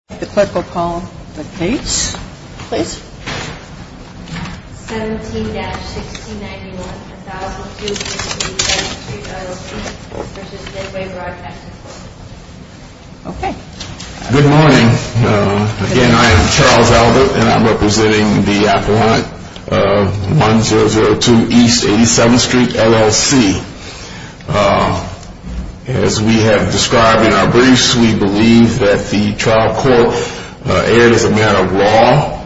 17-1691, 1002 E. 87th Street LLC v. Midway Broadcasting Corp. Good morning. Again, I am Charles Albert, and I'm representing the appellant of 1002 E. 87th Street LLC. As we have described in our briefs, we believe that the trial court erred as a matter of law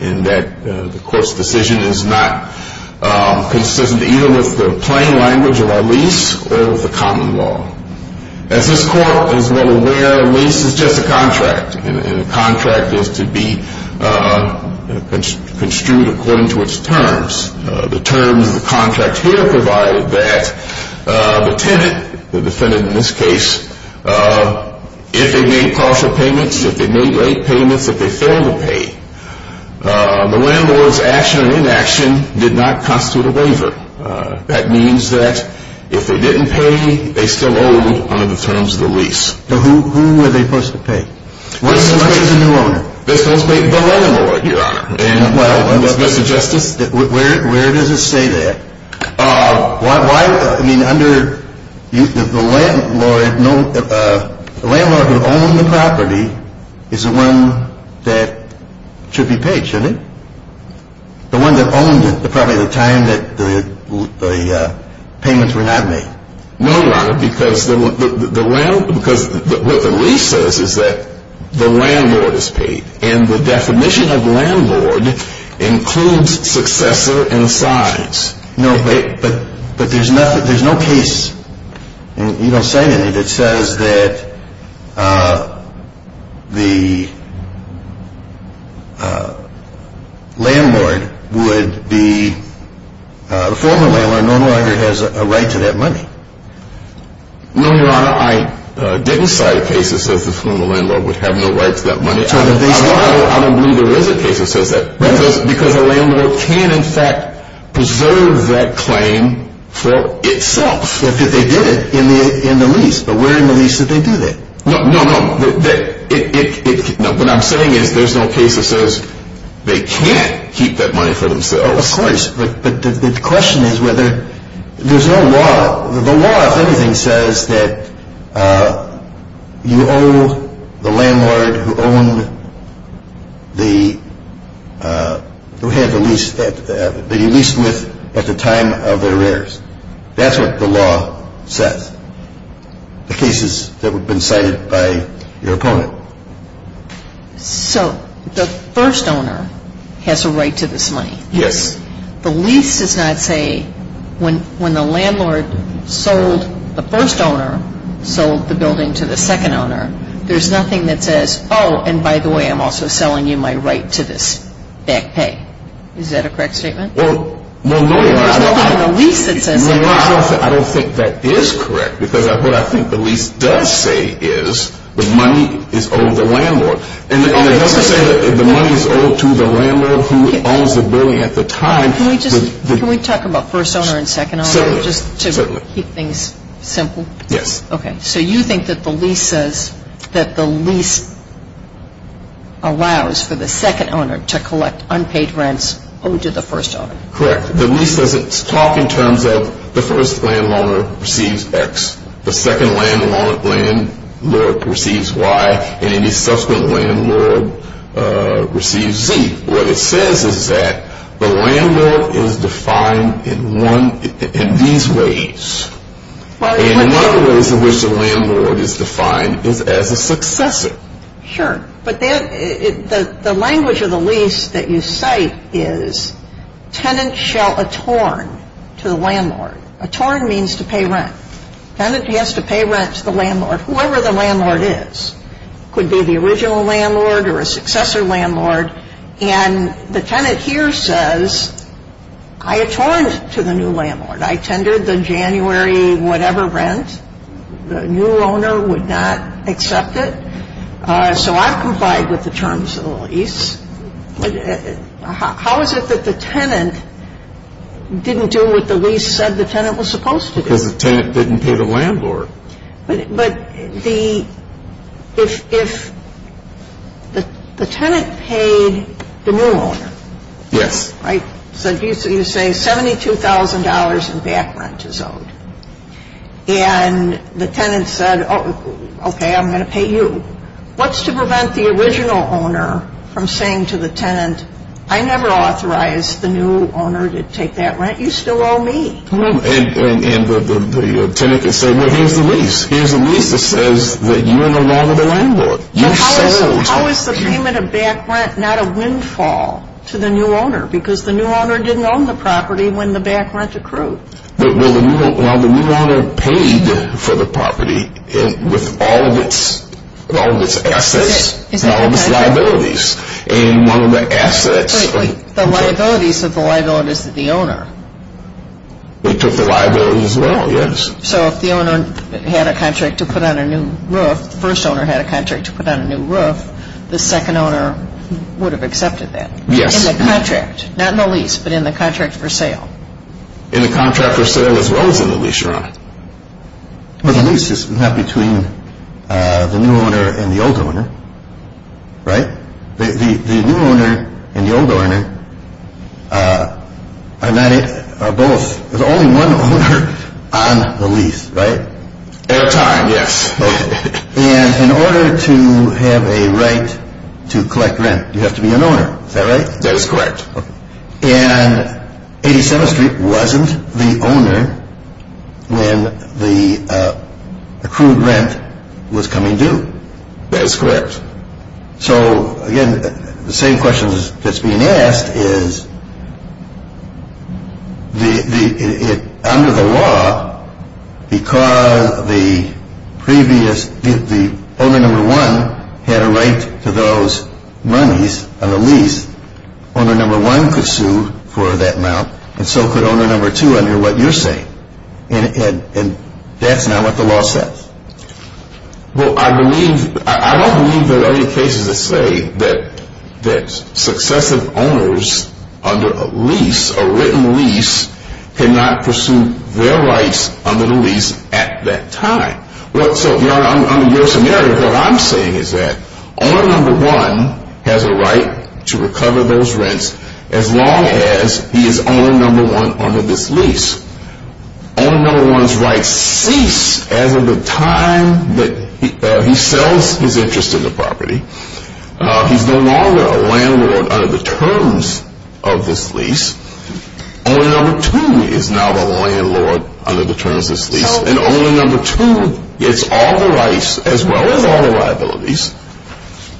and that the court's decision is not consistent either with the plain language of our lease or with the common law. As this court is well aware, a lease is just a contract, and a contract is to be construed according to its terms. The terms of the contract here provide that the tenant, the defendant in this case, if they made partial payments, if they made late payments, if they failed to pay, the landlord's action or inaction did not constitute a waiver. That means that if they didn't pay, they still owed under the terms of the lease. So who were they supposed to pay? We're supposed to pay the landlord, Your Honor. Mr. Justice? Where does it say that? I mean, under the landlord, the landlord who owned the property is the one that should be paid, shouldn't it? The one that owned it, probably at the time that the payments were not made. No, Your Honor, because what the lease says is that the landlord is paid, and the definition of landlord includes successor and sides. No, but there's no case, and you don't say anything, that says that the landlord would be, the former landlord no longer has a right to that money. No, Your Honor, I didn't cite a case that says the former landlord would have no right to that money. I don't believe there is a case that says that, because a landlord can, in fact, preserve that claim for itself. Yes, but they did it in the lease, but where in the lease did they do that? No, no, no, what I'm saying is there's no case that says they can't keep that money for themselves. Well, of course, but the question is whether, there's no law. The law, if anything, says that you owe the landlord who owned the, who had the lease, that you leased with at the time of the arrears. That's what the law says, the cases that have been cited by your opponent. So the first owner has a right to this money? Yes. The lease does not say, when the landlord sold the first owner, sold the building to the second owner, there's nothing that says, oh, and by the way, I'm also selling you my right to this back pay. Is that a correct statement? Well, no, Your Honor. There's nothing in the lease that says that. I don't think that is correct because what I think the lease does say is the money is owed to the landlord. And it doesn't say that the money is owed to the landlord who owns the building at the time. Can we talk about first owner and second owner just to keep things simple? Yes. Okay, so you think that the lease says that the lease allows for the second owner to collect unpaid rents owed to the first owner? Correct. The lease doesn't talk in terms of the first landlord receives X, the second landlord receives Y, and any subsequent landlord receives Z. What it says is that the landlord is defined in these ways. And one of the ways in which the landlord is defined is as a successor. Sure. But the language of the lease that you cite is tenant shall attorn to the landlord. Attorn means to pay rent. Tenant has to pay rent to the landlord, whoever the landlord is. It could be the original landlord or a successor landlord. And the tenant here says, I attorned to the new landlord. I tendered the January whatever rent. The new owner would not accept it. So I've complied with the terms of the lease. How is it that the tenant didn't do what the lease said the tenant was supposed to do? Because the tenant didn't pay the landlord. But if the tenant paid the new owner. Yes. You say $72,000 in back rent is owed. And the tenant said, okay, I'm going to pay you. What's to prevent the original owner from saying to the tenant, I never authorized the new owner to take that rent. You still owe me. And the tenant can say, well, here's the lease. Here's the lease that says that you are no longer the landlord. How is the payment of back rent not a windfall to the new owner? Because the new owner didn't own the property when the back rent accrued. Well, the new owner paid for the property with all of its assets and all of its liabilities. And one of the assets. The liabilities of the liabilities of the owner. It took the liability as well, yes. So if the owner had a contract to put on a new roof, the first owner had a contract to put on a new roof, the second owner would have accepted that. Yes. In the contract. Not in the lease, but in the contract for sale. In the contract for sale as well as in the lease, Your Honor. Well, the lease is not between the new owner and the old owner. Right? The new owner and the old owner are not both. There's only one owner on the lease, right? At a time, yes. And in order to have a right to collect rent, you have to be an owner. Is that right? That is correct. And 87th Street wasn't the owner when the accrued rent was coming due. That is correct. So, again, the same question that's being asked is, under the law, because the previous owner number one had a right to those monies on the lease, owner number one could sue for that amount and so could owner number two under what you're saying. And that's not what the law says. Well, I don't believe there are any cases that say that successive owners under a lease, a written lease, cannot pursue their rights under the lease at that time. So, Your Honor, under your scenario, what I'm saying is that owner number one has a right to recover those rents as long as he is owner number one under this lease. Owner number one's rights cease as of the time that he sells his interest in the property. He's no longer a landlord under the terms of this lease. Owner number two is now the landlord under the terms of this lease. And owner number two gets all the rights as well as all the liabilities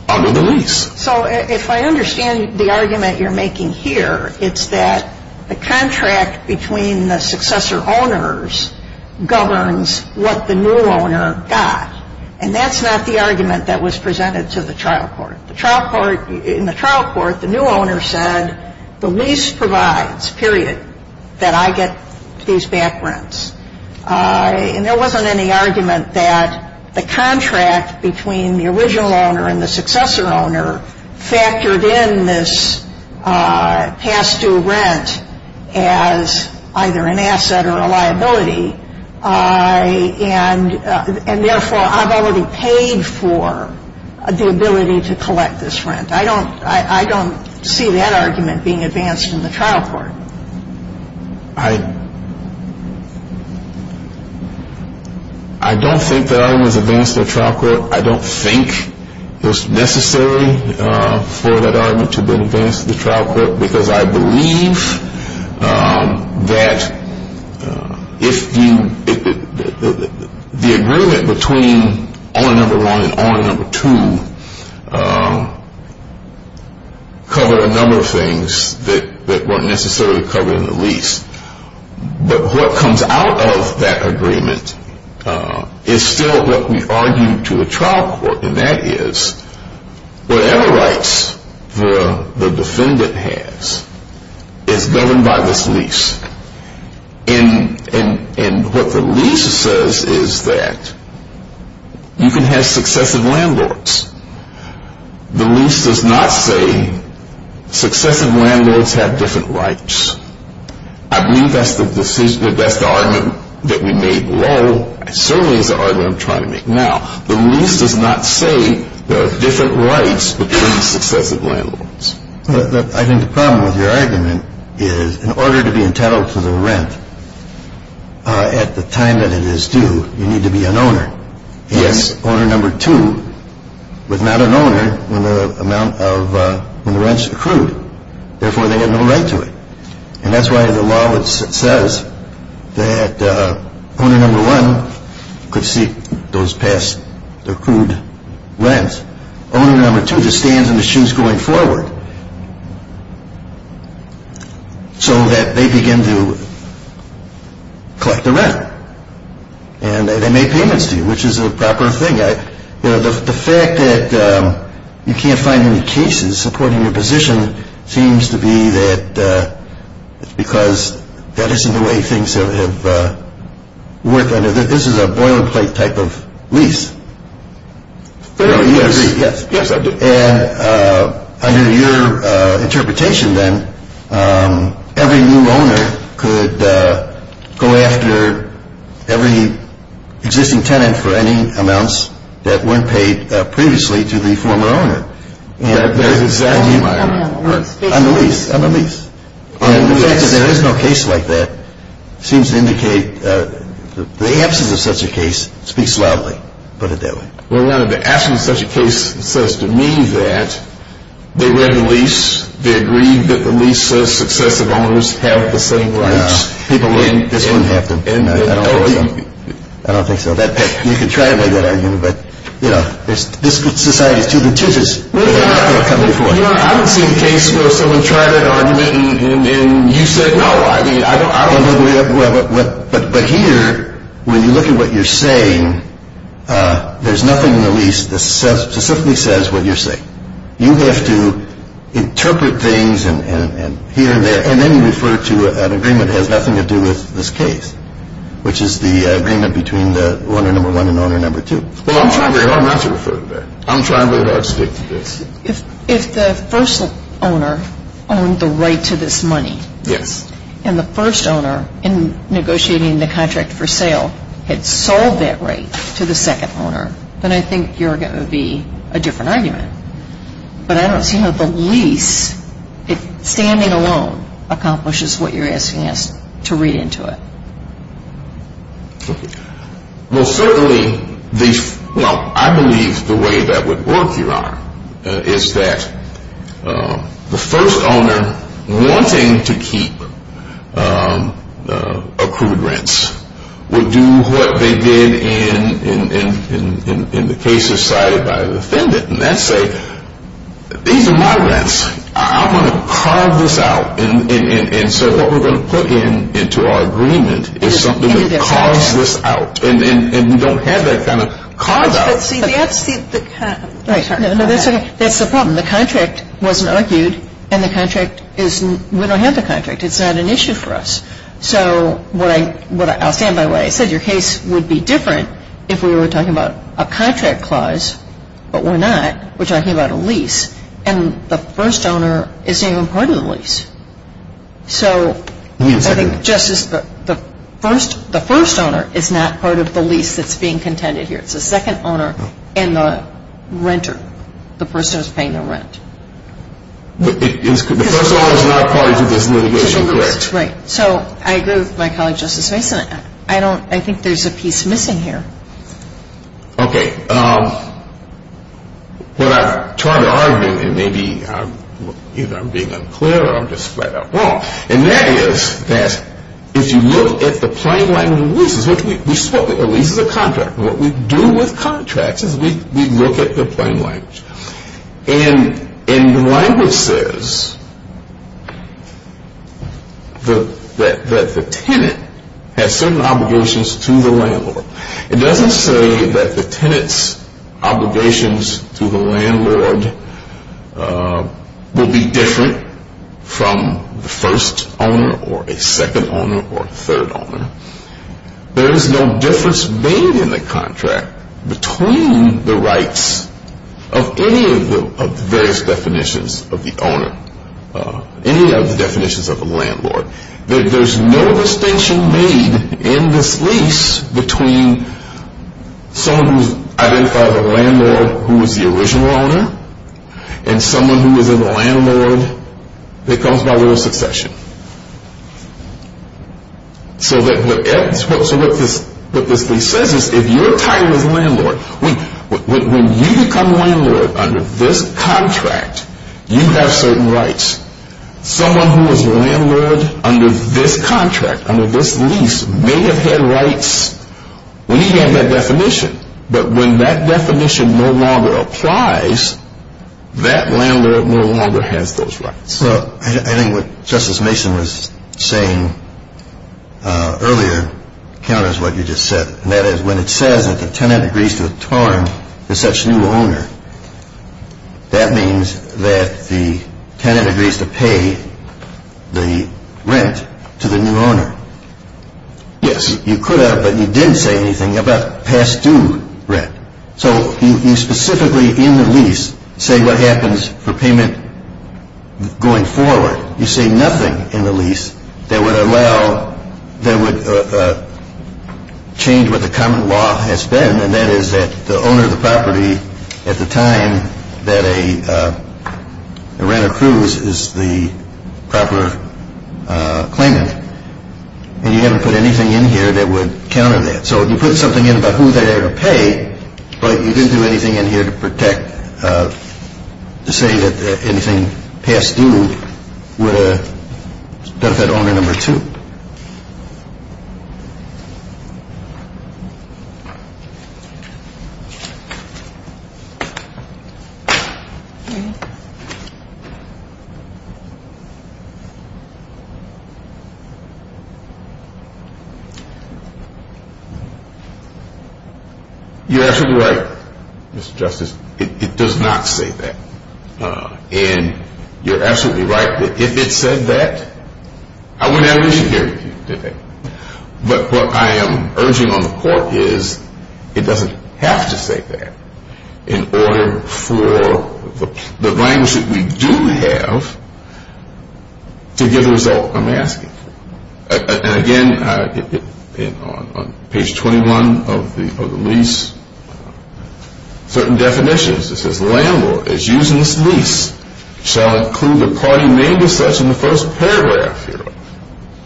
under the lease. So, if I understand the argument you're making here, it's that the contract between the successor owners governs what the new owner got. And that's not the argument that was presented to the trial court. In the trial court, the new owner said the lease provides, period, that I get these back rents. And there wasn't any argument that the contract between the original owner and the successor owner factored in this past due rent as either an asset or a liability. And, therefore, I've already paid for the ability to collect this rent. I don't see that argument being advanced in the trial court. I don't think that argument was advanced in the trial court. I don't think it was necessary for that argument to have been advanced in the trial court because I believe that the agreement between owner number one and owner number two covered a number of things that weren't necessarily covered in the lease. But what comes out of that agreement is still what we argued to the trial court. And that is whatever rights the defendant has is governed by this lease. And what the lease says is that you can have successive landlords. The lease does not say successive landlords have different rights. I believe that's the argument that we made low. It certainly is the argument I'm trying to make now. The lease does not say there are different rights between successive landlords. I think the problem with your argument is in order to be entitled to the rent at the time that it is due, you need to be an owner. Yes. And owner number two was not an owner when the rents accrued. Therefore, they had no right to it. And that's why the law says that owner number one could seek those past accrued rents. Owner number two just stands in the shoes going forward so that they begin to collect the rent. And they make payments to you, which is a proper thing. The fact that you can't find any cases supporting your position seems to be that it's because that isn't the way things have worked. This is a boilerplate type of lease. Yes. Yes, I do. And under your interpretation then, every new owner could go after every existing tenant for any amounts that weren't paid previously to the former owner. That is exactly my argument. On the lease. On the lease. And the fact that there is no case like that seems to indicate the absence of such a case speaks loudly, put it that way. Well, the absence of such a case says to me that they read the lease. They agreed that the lease says successive owners have the same rights. People wouldn't have to. I don't think so. You could try to make that argument. But, you know, this society is too contentious. I haven't seen a case where someone tried that argument and you said no. But here, when you look at what you're saying, there's nothing in the lease that specifically says what you're saying. You have to interpret things here and there and then refer to an agreement that has nothing to do with this case, which is the agreement between the owner number one and owner number two. Well, I'm not trying to refer to that. I'm trying to stick to this. If the first owner owned the right to this money. Yes. And the first owner, in negotiating the contract for sale, had sold that right to the second owner, then I think you're going to be a different argument. But I don't see how the lease, standing alone, accomplishes what you're asking us to read into it. Well, certainly, I believe the way that would work, Your Honor, is that the first owner wanting to keep accrued rents would do what they did in the cases cited by the defendant. And that's say, these are my rents. I'm going to carve this out. And so what we're going to put into our agreement is something that carves this out. And we don't have that kind of carved out. See, that's the problem. The contract wasn't argued, and we don't have the contract. It's not an issue for us. So I'll stand by what I said. Your case would be different if we were talking about a contract clause, but we're not. We're talking about a lease. And the first owner isn't even part of the lease. So I think, Justice, the first owner is not part of the lease that's being contended here. It's the second owner and the renter, the person who's paying the rent. The first owner is not part of this litigation, correct? Right. So I agree with my colleague, Justice Mason. I think there's a piece missing here. Okay. What I'm trying to argue, and maybe I'm being unclear or I'm just flat out wrong, and that is that if you look at the plain language of leases, which we spoke of a lease as a contract. What we do with contracts is we look at the plain language. And the language says that the tenant has certain obligations to the landlord. It doesn't say that the tenant's obligations to the landlord will be different from the first owner or a second owner or a third owner. There is no difference made in the contract between the rights of any of the various definitions of the owner, any of the definitions of the landlord. There's no distinction made in this lease between someone who's identified as a landlord who was the original owner and someone who was a landlord that comes by little succession. So what this lease says is if your title is landlord, when you become landlord under this contract, you have certain rights. Someone who was landlord under this contract, under this lease, may have had rights. We have that definition. But when that definition no longer applies, that landlord no longer has those rights. So I think what Justice Mason was saying earlier counters what you just said, and that is when it says that the tenant agrees to a term with such new owner, that means that the tenant agrees to pay the rent to the new owner. Yes, you could have, but you didn't say anything about past due rent. So you specifically in the lease say what happens for payment going forward. You say nothing in the lease that would allow, that would change what the common law has been, and that is that the owner of the property at the time that a rent accrues is the proper claimant. And you haven't put anything in here that would counter that. So you put something in about who they are to pay, but you didn't do anything in here to protect, to say that anything past due would benefit owner number two. You're absolutely right, Mr. Justice. It does not say that. And you're absolutely right that if it said that, I wouldn't have an issue here today. But what I am urging on the court is it doesn't have to say that in order for the language that we do have to give the result I'm asking for. And again, on page 21 of the lease, certain definitions. It says the landlord is using this lease shall include the party named as such in the first paragraph.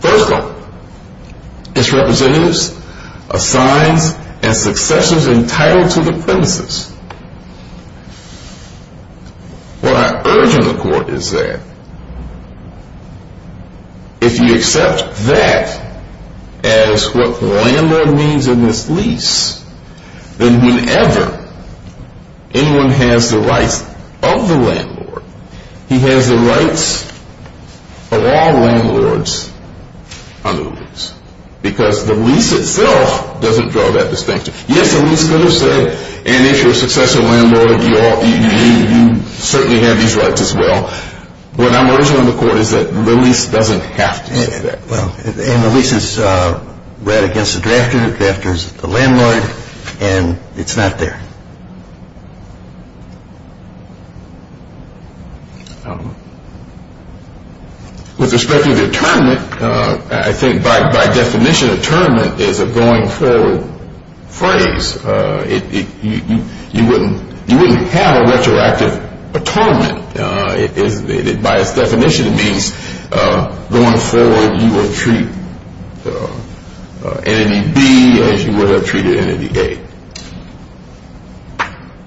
First of all, its representatives, assigns, and successors entitled to the premises. What I urge on the court is that if you accept that as what the landlord means in this lease, then whenever anyone has the rights of the landlord, he has the rights of all landlords on the lease. Because the lease itself doesn't draw that distinction. Yes, the lease could have said, and if you're a successor landlord, you certainly have these rights as well. What I'm urging on the court is that the lease doesn't have to say that. And the lease is read against the drafter. The drafter is the landlord. And it's not there. With respect to the atonement, I think by definition atonement is a going forward phrase. You wouldn't have a retroactive atonement. By its definition, it means going forward you will treat Entity B as you would have treated Entity A.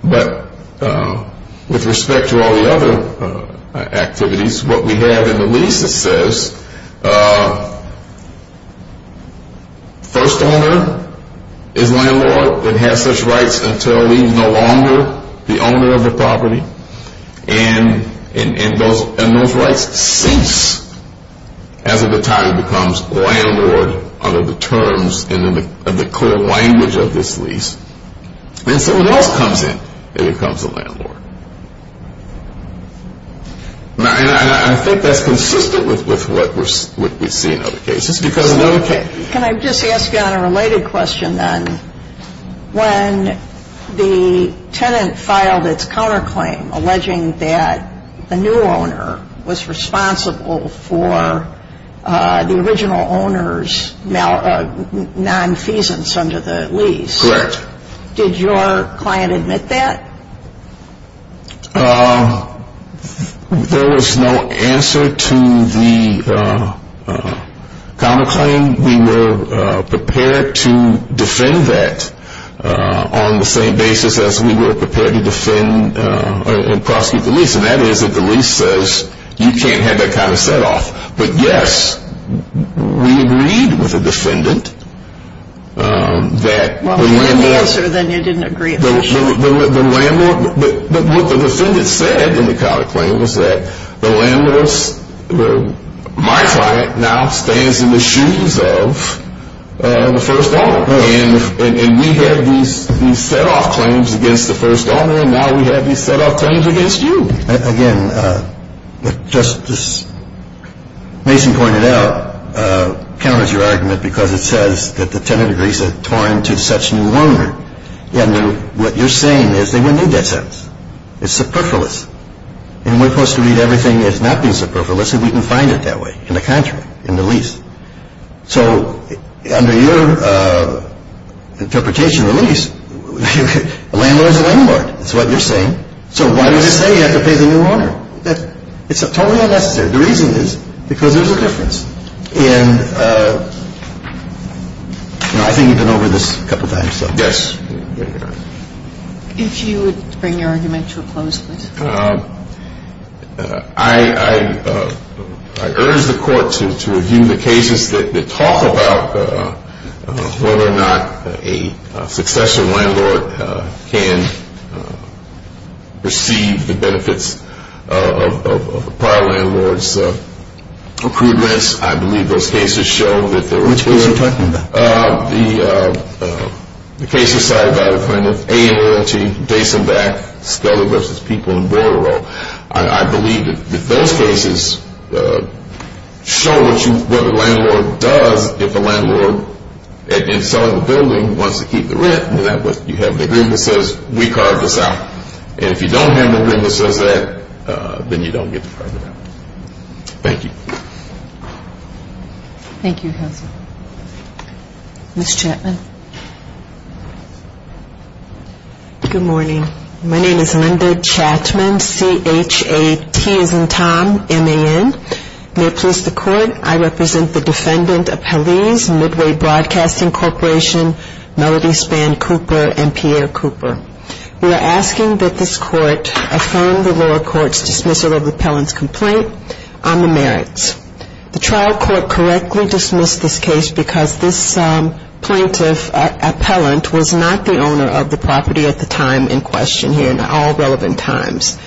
But with respect to all the other activities, what we have in the lease, it says, first owner is landlord and has such rights until he is no longer the owner of the property. And those rights cease as a battalion becomes landlord under the terms of the core language of this lease. Then someone else comes in and becomes a landlord. And I think that's consistent with what we see in other cases. Can I just ask you on a related question then? When the tenant filed its counterclaim alleging that the new owner was responsible for the original owner's nonfeasance under the lease. Correct. Did your client admit that? There was no answer to the counterclaim. We were prepared to defend that on the same basis as we were prepared to defend and prosecute the lease. And that is that the lease says you can't have that kind of set off. But, yes, we agreed with the defendant that the landlord. Well, if you didn't answer, then you didn't agree officially. But what the defendant said in the counterclaim was that the landlord, my client, now stands in the shoes of the first owner. And we had these set off claims against the first owner and now we have these set off claims against you. Again, just as Mason pointed out, it counters your argument because it says that the tenant agrees that it tore into such a new owner. And what you're saying is they wouldn't need that sentence. It's superfluous. And we're supposed to read everything that's not being superfluous if we can find it that way in the contract, in the lease. So under your interpretation of the lease, the landlord is the landlord. That's what you're saying. So why do you say you have to pay the new owner? It's totally unnecessary. The reason is because there's a difference. And I think you've been over this a couple of times. Yes. If you would bring your argument to a close, please. I urge the court to review the cases that talk about whether or not a successor landlord can receive the benefits of a prior landlord's accruements. I believe those cases show that there was a- Which case are you talking about? The case decided by the plaintiff, A&LT, Dase and Back, Scully v. People in Bordereau. I believe that those cases show what the landlord does if the landlord, in selling the building, wants to keep the rent. You have the agreement that says we carved this out. And if you don't have an agreement that says that, then you don't get the permit out. Thank you. Thank you, counsel. Ms. Chatman. Good morning. My name is Linda Chatman, C-H-A-T as in Tom, M-A-N. May it please the court, I represent the defendant appellees, Midway Broadcasting Corporation, Melody Spann Cooper and Pierre Cooper. We are asking that this court affirm the lower court's dismissal of the appellant's complaint on the merits. The trial court correctly dismissed this case because this plaintiff appellant was not the owner of the property at the time in question here, in all relevant times.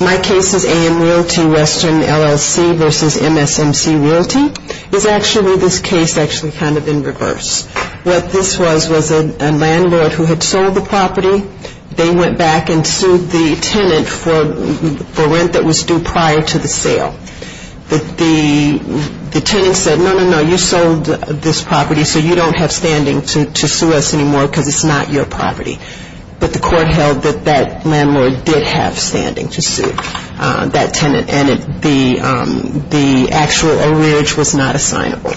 My case is A&LT, Western LLC v. MSMC Realty. It's actually this case actually kind of in reverse. What this was was a landlord who had sold the property. They went back and sued the tenant for rent that was due prior to the sale. The tenant said, no, no, no, you sold this property, so you don't have standing to sue us anymore because it's not your property. But the court held that that landlord did have standing to sue that tenant, and the actual arrearage was not assignable.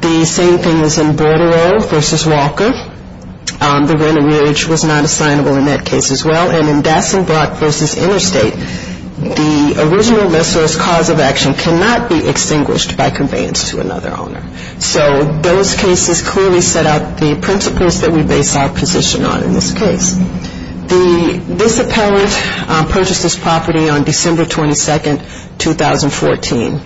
The same thing is in Bordereau v. Walker. The rent arrearage was not assignable in that case as well. And in Dasenbrock v. Interstate, the original list source cause of action cannot be extinguished by conveyance to another owner. So those cases clearly set out the principles that we base our position on in this case. This appellant purchased this property on December 22, 2014.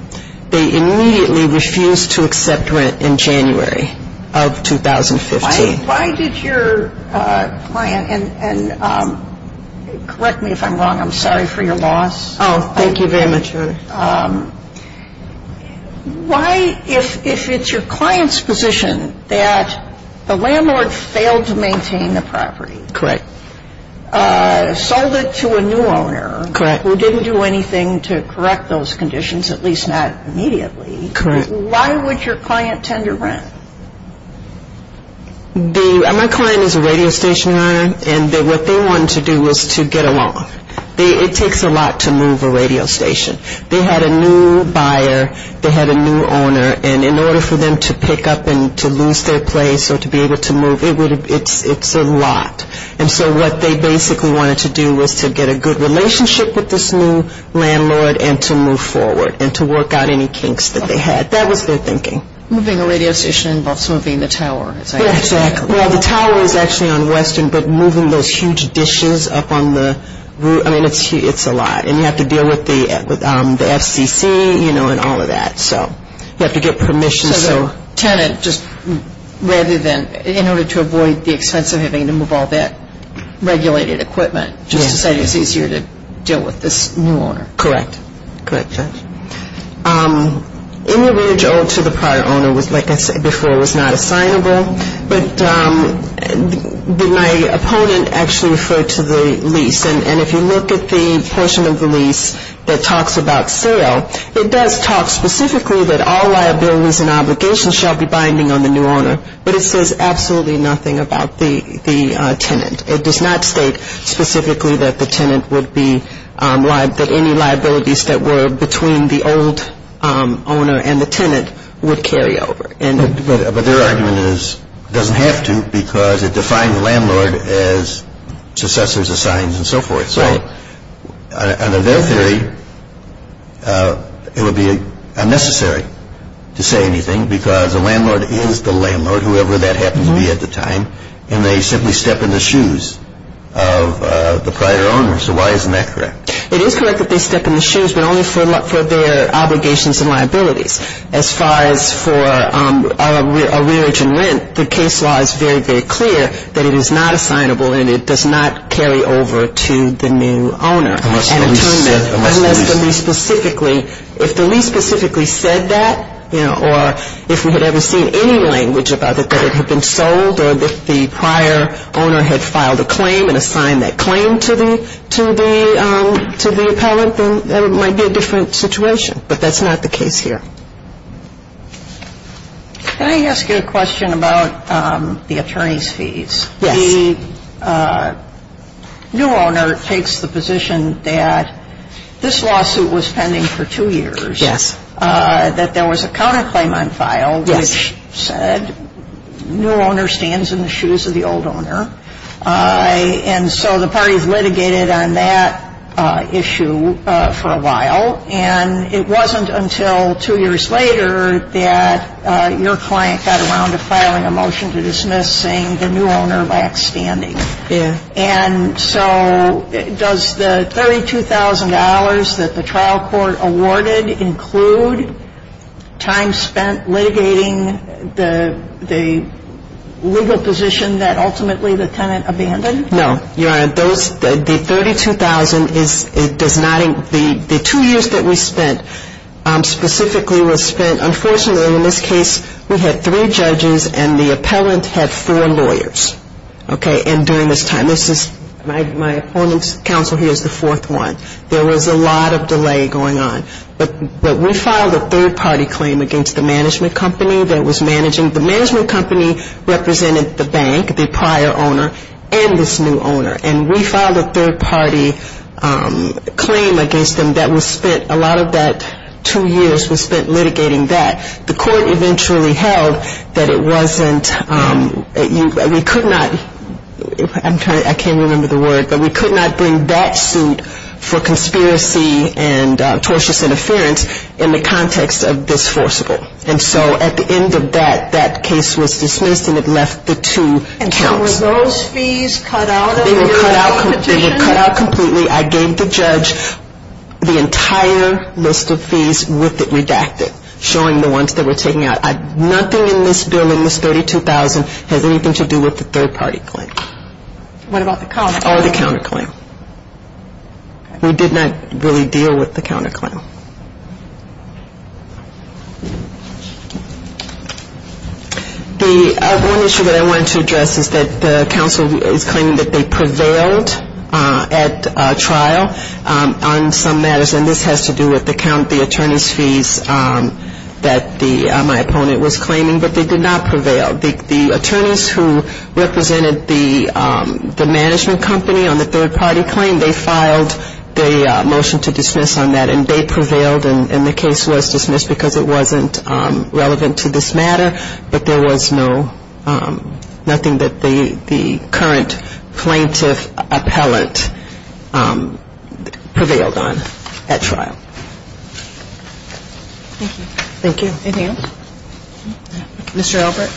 They immediately refused to accept rent in January of 2015. Why did your client, and correct me if I'm wrong, I'm sorry for your loss. Oh, thank you very much. Why, if it's your client's position that the landlord failed to maintain the property. Correct. Sold it to a new owner. Correct. Who didn't do anything to correct those conditions, at least not immediately. Correct. Why would your client tender rent? My client is a radio station owner, and what they wanted to do was to get a loan. It takes a lot to move a radio station. They had a new buyer. They had a new owner. And in order for them to pick up and to lose their place or to be able to move, it's a lot. And so what they basically wanted to do was to get a good relationship with this new landlord and to move forward and to work out any kinks that they had. That was their thinking. Moving a radio station involves moving the tower. Exactly. Well, the tower is actually on Western, but moving those huge dishes up on the roof, I mean, it's a lot. And you have to deal with the FCC, you know, and all of that. So you have to get permission. So the tenant, just rather than, in order to avoid the expense of having to move all that regulated equipment, just to say it's easier to deal with this new owner. Correct. Correct, Judge. Any mortgage owed to the prior owner was, like I said before, was not assignable. But my opponent actually referred to the lease. And if you look at the portion of the lease that talks about sale, it does talk specifically that all liabilities and obligations shall be binding on the new owner, but it says absolutely nothing about the tenant. It does not state specifically that the tenant would be, that any liabilities that were between the old owner and the tenant would carry over. But their argument is it doesn't have to because it defines the landlord as successors, assigns, and so forth. Right. Now, under their theory, it would be unnecessary to say anything because the landlord is the landlord, whoever that happens to be at the time, and they simply step in the shoes of the prior owner. So why isn't that correct? It is correct that they step in the shoes, but only for their obligations and liabilities. As far as for a rearage and rent, the case law is very, very clear that it is not assignable and it does not carry over to the new owner. Unless the lease specifically, if the lease specifically said that, or if we had ever seen any language about it that it had been sold or that the prior owner had filed a claim and assigned that claim to the appellant, then it might be a different situation. But that's not the case here. Can I ask you a question about the attorney's fees? Yes. The new owner takes the position that this lawsuit was pending for two years. Yes. That there was a counterclaim on file which said new owner stands in the shoes of the old owner. And so the parties litigated on that issue for a while. And it wasn't until two years later that your client got around to filing a motion to dismiss saying the new owner lacks standing. Yes. And so does the $32,000 that the trial court awarded include time spent litigating the legal position that ultimately the tenant abandoned? No. Your Honor, those, the $32,000 does not, the two years that we spent specifically was spent, unfortunately in this case we had three judges and the appellant had four lawyers. Okay. And during this time, this is my opponent's counsel here is the fourth one. There was a lot of delay going on. But we filed a third party claim against the management company that was managing, the management company represented the bank, the prior owner, and this new owner. And we filed a third party claim against them that was spent, a lot of that two years was spent litigating that. The court eventually held that it wasn't, we could not, I'm trying to, I can't remember the word, but we could not bring that suit for conspiracy and tortious interference in the context of this forcible. And so at the end of that, that case was dismissed and it left the two counts. And so were those fees cut out of the petition? They were cut out completely. I gave the judge the entire list of fees with it redacted, showing the ones that were taken out. Nothing in this bill in this 32,000 has anything to do with the third party claim. What about the counterclaim? Or the counterclaim. We did not really deal with the counterclaim. The one issue that I wanted to address is that the council is claiming that they prevailed at trial on some matters. And this has to do with the count, the attorney's fees that my opponent was claiming. But they did not prevail. The attorneys who represented the management company on the third party claim, they filed the motion to dismiss on that. And they prevailed and the case was dismissed because it wasn't relevant to this matter. But there was nothing that the current plaintiff appellant prevailed on at trial. Thank you. Thank you. Mr. Albert.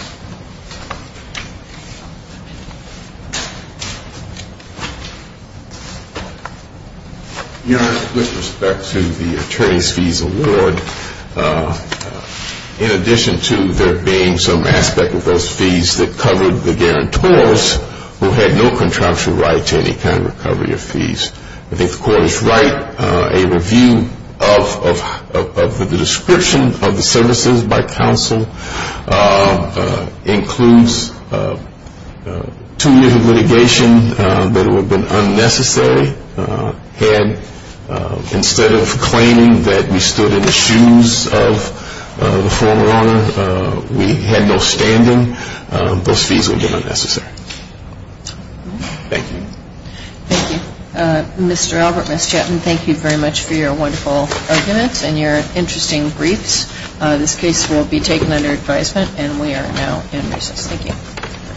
Your Honor, with respect to the attorney's fees award, in addition to there being some aspect of those fees that covered the guarantors who had no contraption right to any kind of recovery of fees, I think the court is right. A review of the description of the services by counsel includes two years of litigation that would have been unnecessary. And instead of claiming that we stood in the shoes of the former owner, we had no standing. Those fees would have been unnecessary. Thank you. Thank you. Mr. Albert, Ms. Chapman, thank you very much for your wonderful arguments and your interesting briefs. This case will be taken under advisement and we are now in recess. Thank you.